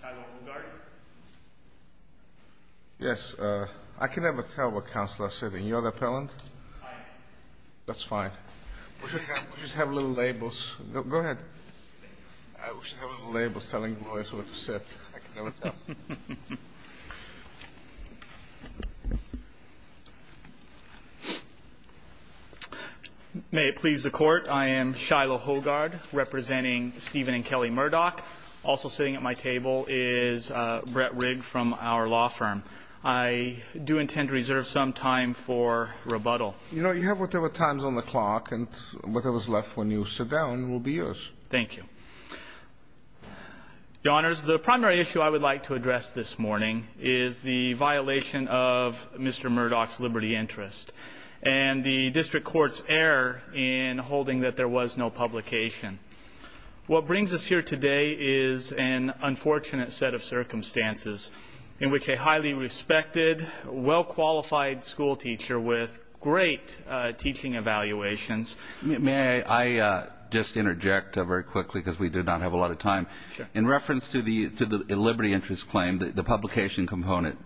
Shiloh Hoegaard Yes, I can never tell what counselors said. And you're the appellant? Aye. That's fine. We'll just have little labels. Go ahead. We'll just have little labels telling lawyers what to say. I can never tell. May it please the Court, I am Shiloh Hoegaard, representing Stephen and Kelly Murdock. Also sitting at my table is Brett Rigg from our law firm. I do intend to reserve some time for rebuttal. You know, you have whatever time's on the clock, and whatever's left when you sit down will be yours. Thank you. Your Honors, the primary issue I would like to address this morning is the violation of Mr. Murdock's liberty interest and the district court's error in holding that there was no publication. What brings us here today is an unfortunate set of circumstances in which a highly respected, well-qualified school teacher with great teaching evaluations May I just interject very quickly because we do not have a lot of time? Sure. In reference to the liberty interest claim, the publication component,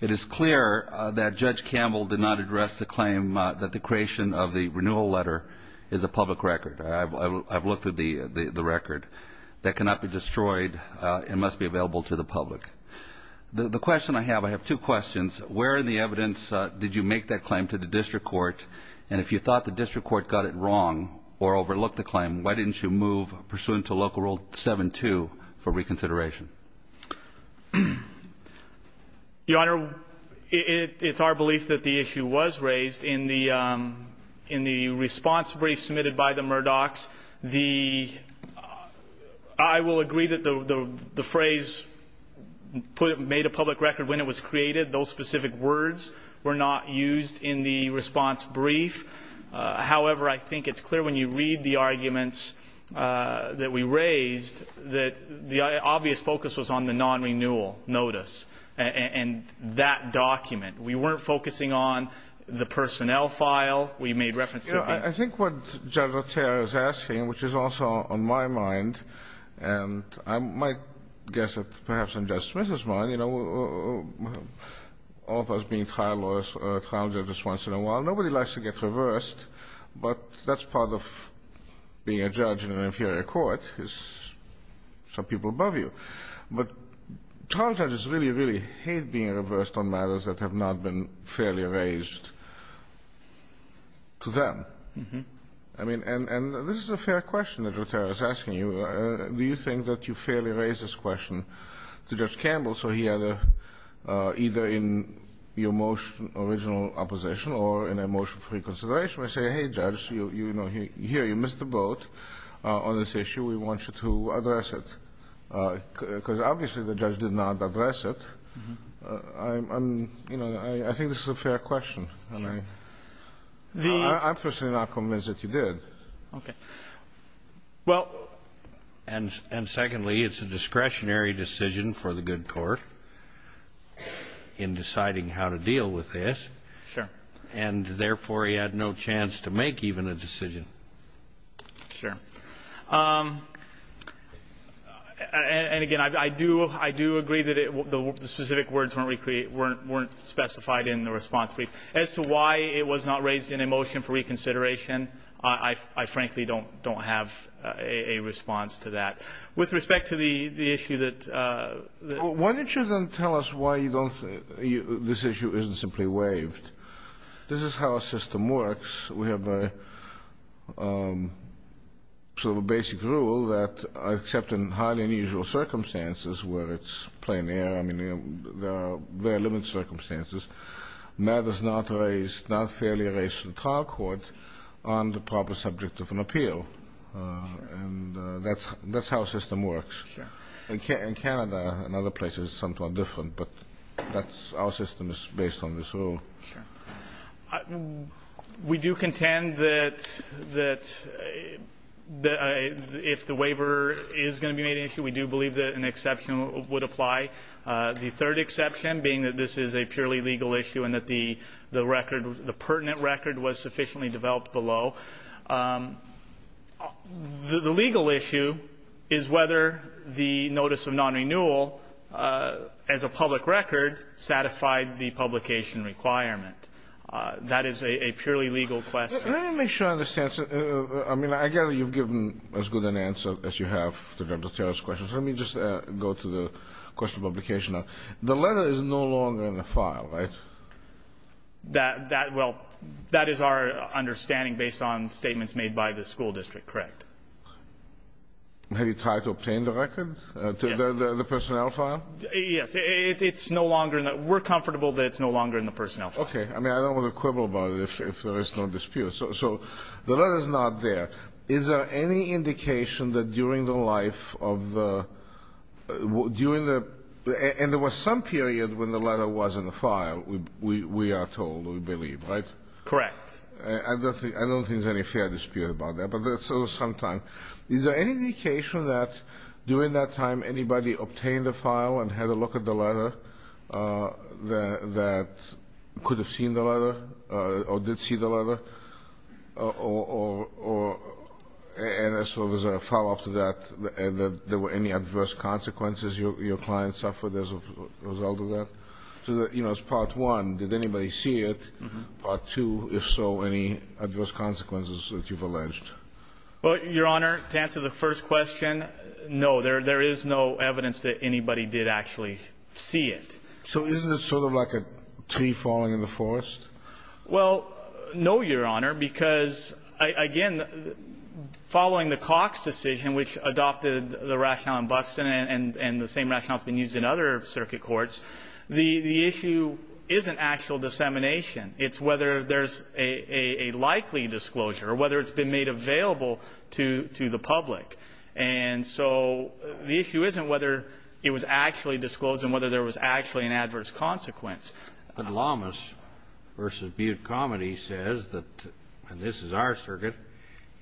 it is clear that Judge Campbell did not address the claim that the creation of the renewal letter is a public record. I've looked at the record. That cannot be destroyed. It must be available to the public. The question I have, I have two questions. Where in the evidence did you make that claim to the district court? And if you thought the district court got it wrong or overlooked the claim, why didn't you move pursuant to Local Rule 7-2 for reconsideration? Your Honor, it's our belief that the issue was raised in the response brief submitted by the Murdocks. I will agree that the phrase made a public record when it was created. Those specific words were not used in the response brief. However, I think it's clear when you read the arguments that we raised that the obvious focus was on the non-renewal notice and that document. We weren't focusing on the personnel file. We made reference to the What Judge Otero is asking, which is also on my mind, and I might guess it's perhaps on Judge Smith's mind, you know, all of us being trial lawyers, trial judges once in a while, nobody likes to get reversed, but that's part of being a judge in an inferior court is some people above you. But trial judges really, really hate being reversed on matters that have not been fairly raised to them. I mean, and this is a fair question that Otero is asking you. Do you think that you fairly raised this question to Judge Campbell, so he had either in your motion original opposition or in a motion for reconsideration, you know, here you missed the boat on this issue, we want you to address it? Because obviously the judge did not address it. I'm, you know, I think this is a fair question. And I'm personally not convinced that you did. Okay. Well, and secondly, it's a discretionary decision for the good court in deciding how to deal with this. Sure. And therefore, he had no chance to make even a decision. Sure. And again, I do agree that the specific words weren't specified in the response brief. As to why it was not raised in a motion for reconsideration, I frankly don't have a response to that. Why don't you then tell us why this issue isn't simply waived? This is how a system works. We have a sort of a basic rule that except in highly unusual circumstances where it's plain air, I mean, there are very limited circumstances, matters not fairly raised to the trial court aren't the proper subject of an appeal. And that's how a system works. Sure. In Canada and other places it's somewhat different, but that's our system is based on this rule. Sure. We do contend that if the waiver is going to be made an issue, we do believe that an exception would apply. The third exception being that this is a purely legal issue and that the record, the pertinent record was sufficiently developed below. The legal issue is whether the notice of non-renewal as a public record satisfied the publication requirement. That is a purely legal question. Let me make sure I understand. I mean, I gather you've given as good an answer as you have to Dr. Terrell's questions. Let me just go to the question of publication. The letter is no longer in the file, right? Well, that is our understanding based on statements made by the school district, correct? Have you tried to obtain the record? Yes. The personnel file? Yes. It's no longer in that. We're comfortable that it's no longer in the personnel file. Okay. I mean, I don't want to quibble about it if there is no dispute. So the letter is not there. Is there any indication that during the life of the – during the – and there was some period when the letter was in the file. We are told, we believe, right? Correct. I don't think there's any fair dispute about that, but there was some time. Is there any indication that during that time anybody obtained the file and had a look at the letter that could have seen the letter or did see the letter or – and there was a follow-up to that and that there were any adverse consequences your client suffered as a result of that? So, you know, as part one, did anybody see it? Part two, if so, any adverse consequences that you've alleged? Well, Your Honor, to answer the first question, no. There is no evidence that anybody did actually see it. So isn't it sort of like a tree falling in the forest? Well, no, Your Honor, because, again, following the Cox decision, which adopted the rationale in Buxton and the same rationale that's been used in other circuit courts, the issue isn't actual dissemination. It's whether there's a likely disclosure or whether it's been made available to the public. And so the issue isn't whether it was actually disclosed and whether there was actually an adverse consequence. But Lamas v. Butte Comity says that, and this is our circuit,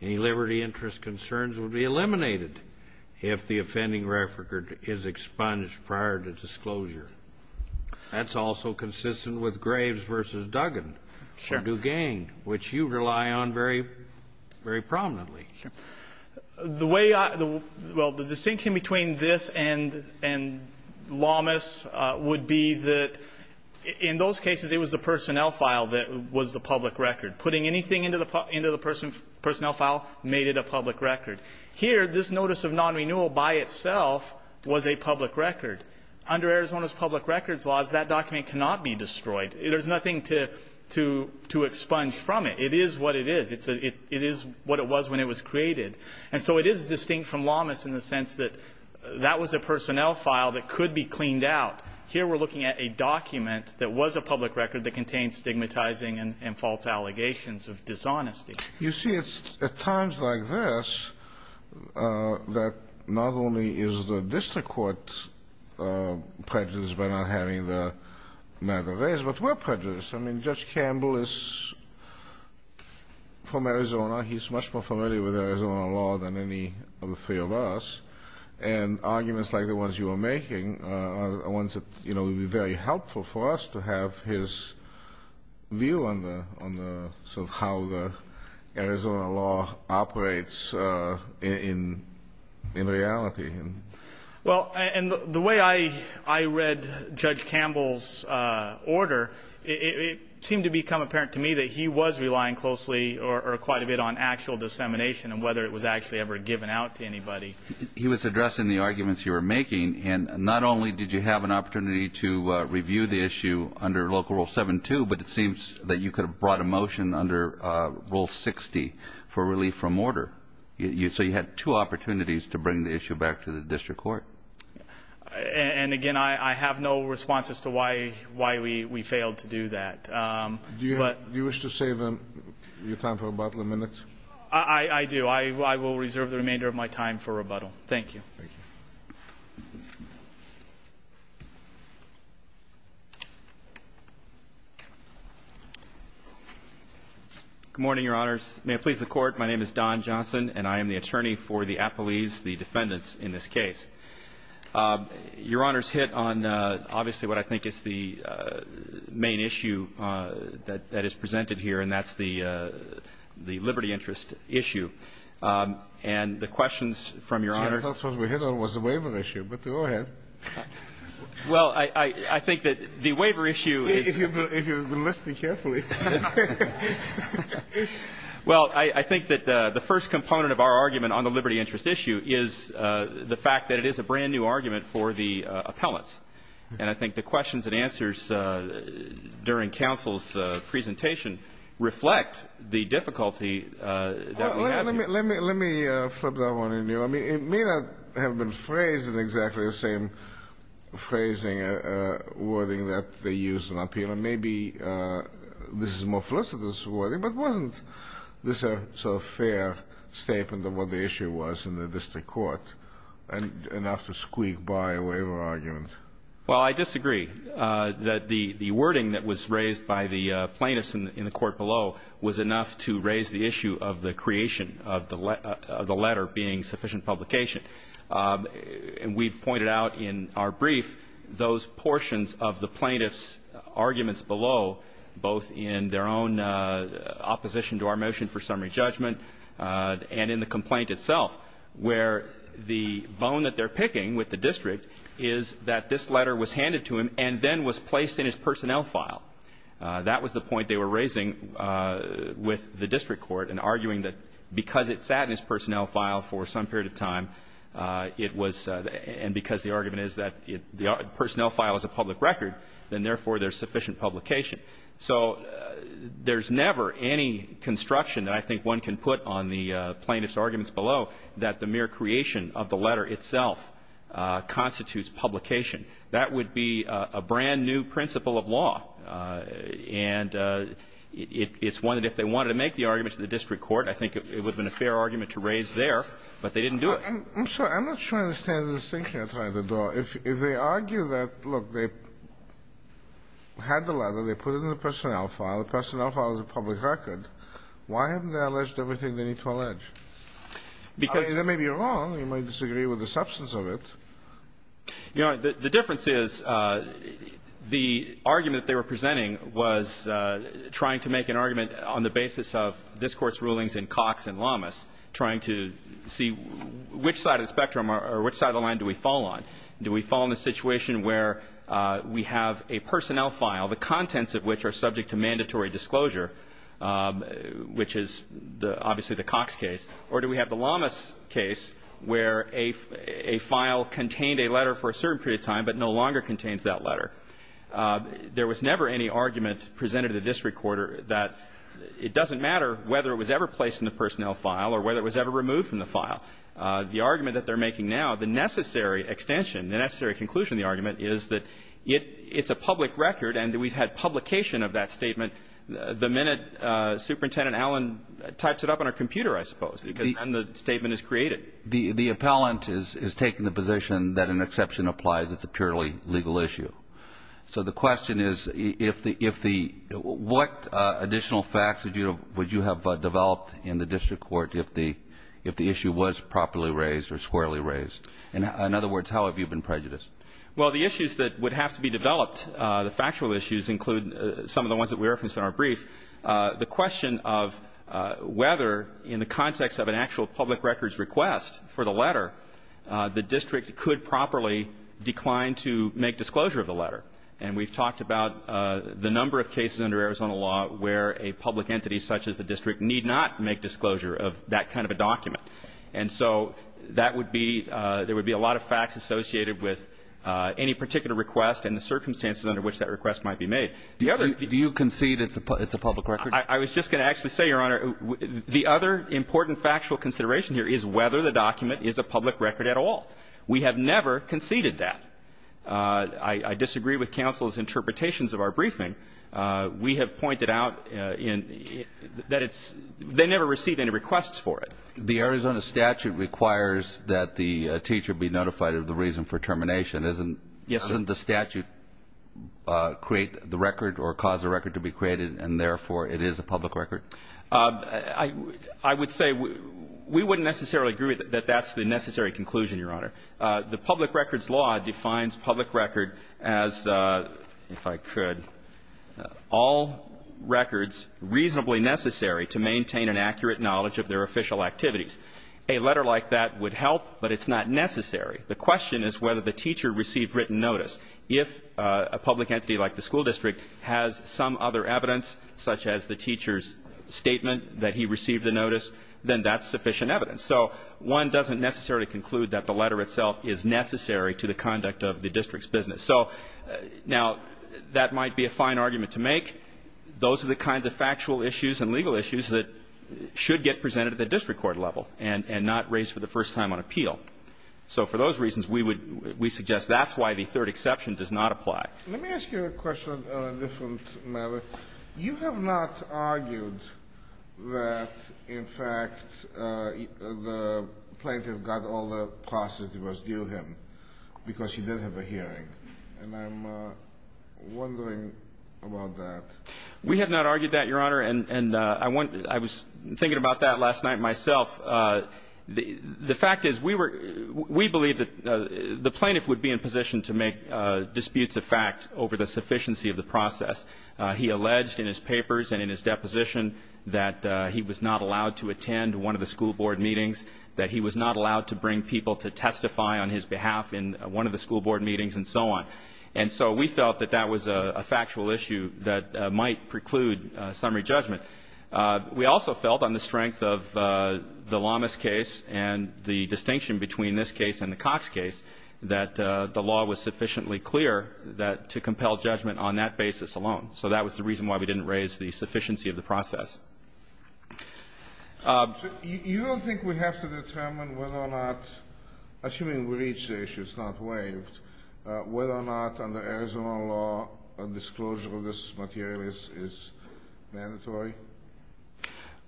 any liberty interest concerns would be eliminated if the offending record is expunged prior to disclosure. That's also consistent with Graves v. Duggan. Sure. Or Duggan, which you rely on very prominently. Sure. Well, the distinction between this and Lamas would be that in those cases it was the personnel file that was the public record. Putting anything into the personnel file made it a public record. Here, this notice of non-renewal by itself was a public record. Under Arizona's public records laws, that document cannot be destroyed. There's nothing to expunge from it. It is what it is. It is what it was when it was created. And so it is distinct from Lamas in the sense that that was a personnel file that could be cleaned out. Here we're looking at a document that was a public record that contained stigmatizing and false allegations of dishonesty. You see, it's at times like this that not only is the district court prejudiced by not having the matter raised, but we're prejudiced. I mean, Judge Campbell is from Arizona. He's much more familiar with Arizona law than any of the three of us. And arguments like the ones you were making are ones that would be very helpful for us to have his view on the sort of how the Arizona law operates in reality. Well, and the way I read Judge Campbell's order, it seemed to become apparent to me that he was relying closely or quite a bit on actual dissemination and whether it was actually ever given out to anybody. He was addressing the arguments you were making, and not only did you have an opportunity to review the issue under Local Rule 7-2, but it seems that you could have brought a motion under Rule 60 for relief from order. So you had two opportunities to bring the issue back to the district court. And, again, I have no response as to why we failed to do that. Do you wish to save your time for rebuttal a minute? I do. I will reserve the remainder of my time for rebuttal. Thank you. Thank you. Good morning, Your Honors. May it please the Court. My name is Don Johnson, and I am the attorney for the appellees, the defendants in this case. Your Honors hit on obviously what I think is the main issue that is presented here, and that's the liberty interest issue. And the questions from Your Honors ---- I thought what we hit on was the waiver issue, but go ahead. Well, I think that the waiver issue is ---- If you're listening carefully. Well, I think that the first component of our argument on the liberty interest issue is the fact that it is a brand-new argument for the appellants. And I think the questions and answers during counsel's presentation reflect the difficulty that we have here. Let me flip that one on you. I mean, it may not have been phrased in exactly the same phrasing, wording that they used in appeal. Maybe this is more felicitous wording, but wasn't this a sort of fair statement of what the issue was in the district court, enough to squeak by a waiver argument? Well, I disagree. The wording that was raised by the plaintiffs in the court below was enough to raise the issue of the creation of the letter being sufficient publication. And we've pointed out in our brief those portions of the plaintiffs' arguments below, both in their own opposition to our motion for summary judgment and in the complaint itself, where the bone that they're picking with the district is that this letter was handed to him and then was placed in his personnel file. That was the point they were raising with the district court in arguing that because it sat in his personnel file for some period of time, it was and because the argument is that the personnel file is a public record, then, therefore, there's sufficient publication. So there's never any construction that I think one can put on the plaintiffs' arguments below that the mere creation of the letter itself constitutes publication. That would be a brand-new principle of law. And it's one that if they wanted to make the argument to the district court, I think it would have been a fair argument to raise it there, but they didn't do it. I'm sorry. I'm not sure I understand the distinction you're trying to draw. If they argue that, look, they had the letter, they put it in the personnel file, the personnel file is a public record, why haven't they alleged everything they need to allege? Because they may be wrong. They may disagree with the substance of it. You know, the difference is the argument they were presenting was trying to make an argument on the basis of this Court's rulings in Cox and Lamas, trying to see which side of the spectrum or which side of the line do we fall on. Do we fall in a situation where we have a personnel file, the contents of which are subject to mandatory disclosure, which is obviously the Cox case, or do we have the Lamas case where a file contained a letter for a certain period of time but no longer contains that letter? There was never any argument presented to the district court that it doesn't matter whether it was ever placed in the personnel file or whether it was ever removed from the file. The argument that they're making now, the necessary extension, the necessary conclusion of the argument is that it's a public record and that we've had publication of that statement the minute Superintendent Allen types it up on a computer, I suppose, because then the statement is created. The appellant is taking the position that an exception applies. It's a purely legal issue. So the question is if the what additional facts would you have developed in the district court if the issue was properly raised or squarely raised? In other words, how have you been prejudiced? Well, the issues that would have to be developed, the factual issues include some of the ones that we referenced in our brief. The question of whether in the context of an actual public records request for the letter, the district could properly decline to make disclosure of the letter. And we've talked about the number of cases under Arizona law where a public entity such as the district need not make disclosure of that kind of a document. And so that would be, there would be a lot of facts associated with any particular request and the circumstances under which that request might be made. Do you concede it's a public record? I was just going to actually say, Your Honor, the other important factual consideration here is whether the document is a public record at all. We have never conceded that. I disagree with counsel's interpretations of our briefing. We have pointed out that it's, they never received any requests for it. The Arizona statute requires that the teacher be notified of the reason for termination. Yes, sir. Doesn't the statute create the record or cause a record to be created and, therefore, it is a public record? I would say we wouldn't necessarily agree that that's the necessary conclusion, Your Honor. The public records law defines public record as, if I could, all records reasonably necessary to maintain an accurate knowledge of their official activities. A letter like that would help, but it's not necessary. The question is whether the teacher received written notice. If a public entity like the school district has some other evidence, such as the teacher's statement that he received the notice, then that's sufficient evidence. So one doesn't necessarily conclude that the letter itself is necessary to the conduct of the district's business. So, now, that might be a fine argument to make. Those are the kinds of factual issues and legal issues that should get presented at the district court level and not raised for the first time on appeal. So, for those reasons, we would we suggest that's why the third exception does not apply. Let me ask you a question on a different matter. You have not argued that, in fact, the plaintiff got all the process that was due him because he did have a hearing. And I'm wondering about that. We have not argued that, Your Honor. And I was thinking about that last night myself. The fact is we believe that the plaintiff would be in position to make disputes of fact over the sufficiency of the process. He alleged in his papers and in his deposition that he was not allowed to attend one of the school board meetings, that he was not allowed to bring people to testify on his behalf in one of the school board meetings and so on. And so we felt that that was a factual issue that might preclude summary judgment. We also felt on the strength of the Lamas case and the distinction between this case and the Cox case that the law was sufficiently clear that to compel judgment on that basis alone. So that was the reason why we didn't raise the sufficiency of the process. You don't think we have to determine whether or not, assuming we reach the issue, it's not waived, whether or not under Arizona law a disclosure of this material is mandatory?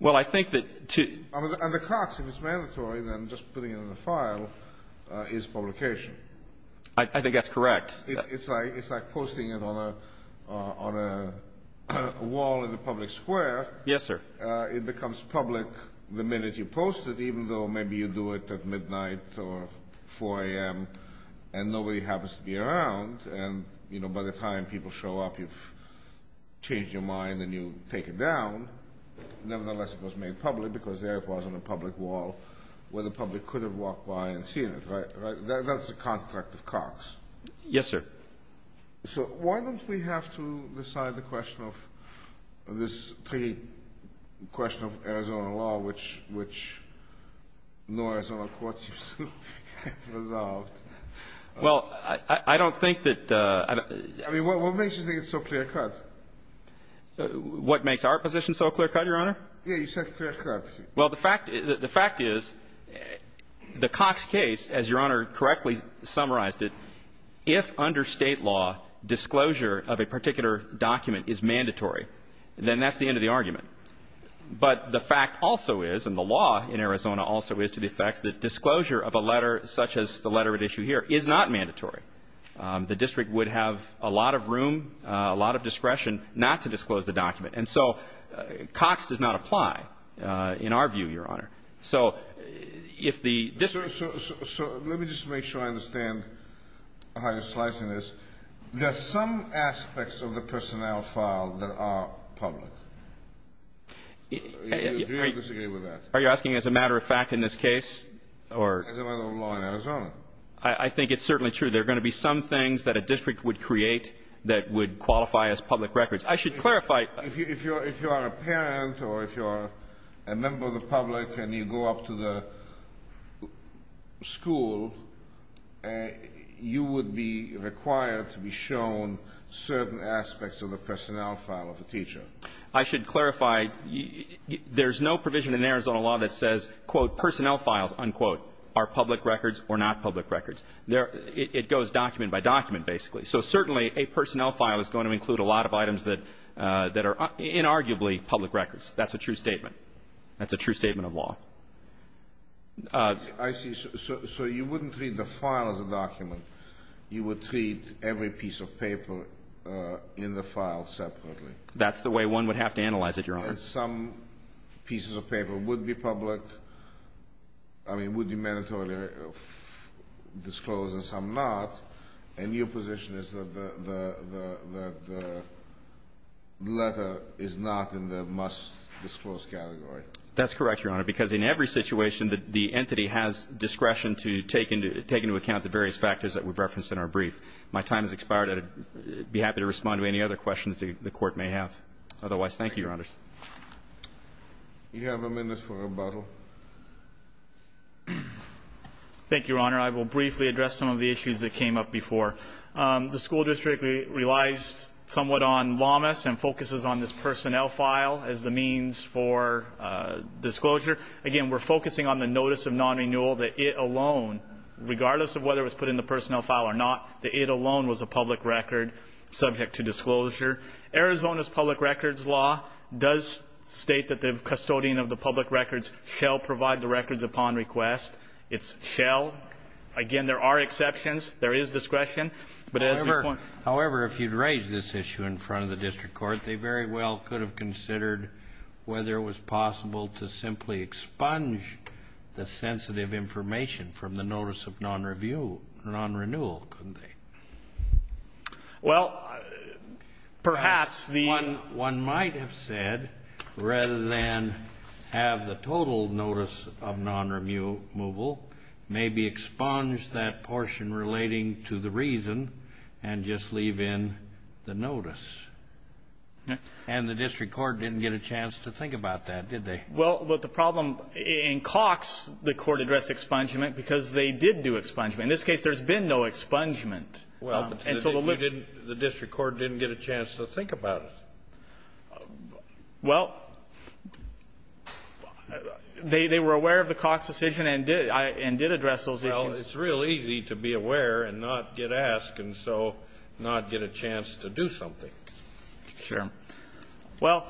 Well, I think that to... Under Cox, if it's mandatory, then just putting it in a file is publication. I think that's correct. It's like posting it on a wall in a public square. Yes, sir. It becomes public the minute you post it, even though maybe you do it at midnight or 4 a.m. and nobody happens to be around. And, you know, by the time people show up, you've changed your mind and you take it down. Nevertheless, it was made public because there it was on a public wall where the public could have walked by and seen it, right? That's the construct of Cox. Yes, sir. So why don't we have to decide the question of this tricky question of Arizona law, which no Arizona court seems to have resolved? Well, I don't think that... I mean, what makes you think it's so clear-cut? What makes our position so clear-cut, Your Honor? Yes, you said clear-cut. Well, the fact is, the Cox case, as Your Honor correctly summarized it, if under State law disclosure of a particular document is mandatory, then that's the end of the argument. But the fact also is, and the law in Arizona also is to the effect that disclosure of a letter such as the letter at issue here is not mandatory. The district would have a lot of room, a lot of discretion not to disclose the document. And so Cox does not apply in our view, Your Honor. So if the district... So let me just make sure I understand how you're slicing this. There are some aspects of the personnel file that are public. Do you agree with that? Are you asking as a matter of fact in this case? As a matter of law in Arizona. I think it's certainly true. There are going to be some things that a district would create that would qualify as public records. I should clarify... If you are a parent or if you are a member of the public and you go up to the school, you would be required to be shown certain aspects of the personnel file of the teacher. I should clarify, there's no provision in Arizona law that says, quote, personnel files, unquote, are public records or not public records. It goes document by document, basically. So certainly a personnel file is going to include a lot of items that are inarguably public records. That's a true statement. That's a true statement of law. I see. So you wouldn't treat the file as a document. You would treat every piece of paper in the file separately. That's the way one would have to analyze it, Your Honor. Some pieces of paper would be public, I mean, would be mandatorily disclosed and some not. And your position is that the letter is not in the must-disclose category. That's correct, Your Honor, because in every situation the entity has discretion to take into account the various factors that we've referenced in our brief. My time has expired. I'd be happy to respond to any other questions the Court may have. Otherwise, thank you, Your Honors. You have a minute for rebuttal. Thank you, Your Honor. I will briefly address some of the issues that came up before. The school district relies somewhat on lawmess and focuses on this personnel file as the means for disclosure. Again, we're focusing on the notice of non-renewal, that it alone, regardless of whether it was put in the personnel file or not, that it alone was a public record subject to disclosure. Arizona's public records law does state that the custodian of the public records shall provide the records upon request. It shall. Again, there are exceptions. There is discretion. However, if you'd raised this issue in front of the district court, they very well could have considered whether it was possible to simply expunge the sensitive information from the notice of non-renewal, couldn't they? Well, perhaps the One might have said, rather than have the total notice of non-renewal, maybe expunge that portion relating to the reason and just leave in the notice. And the district court didn't get a chance to think about that, did they? Well, the problem in Cox, the court addressed expungement because they did do expungement. In this case, there's been no expungement. Well, but the district court didn't get a chance to think about it. Well, they were aware of the Cox decision and did address those issues. Well, it's real easy to be aware and not get asked and so not get a chance to do something. Sure. Well,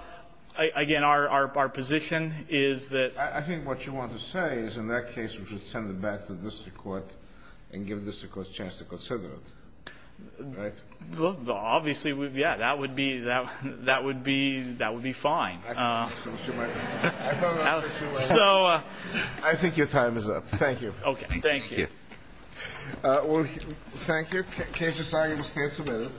again, our position is that I think what you want to say is in that case, we should send it back to the district court and give the district court a chance to consider it. Right? Well, obviously, yeah, that would be fine. I thought that would be fine. So I think your time is up. Thank you. Okay. Thank you. Well, thank you. The case is signed. We stand submitted.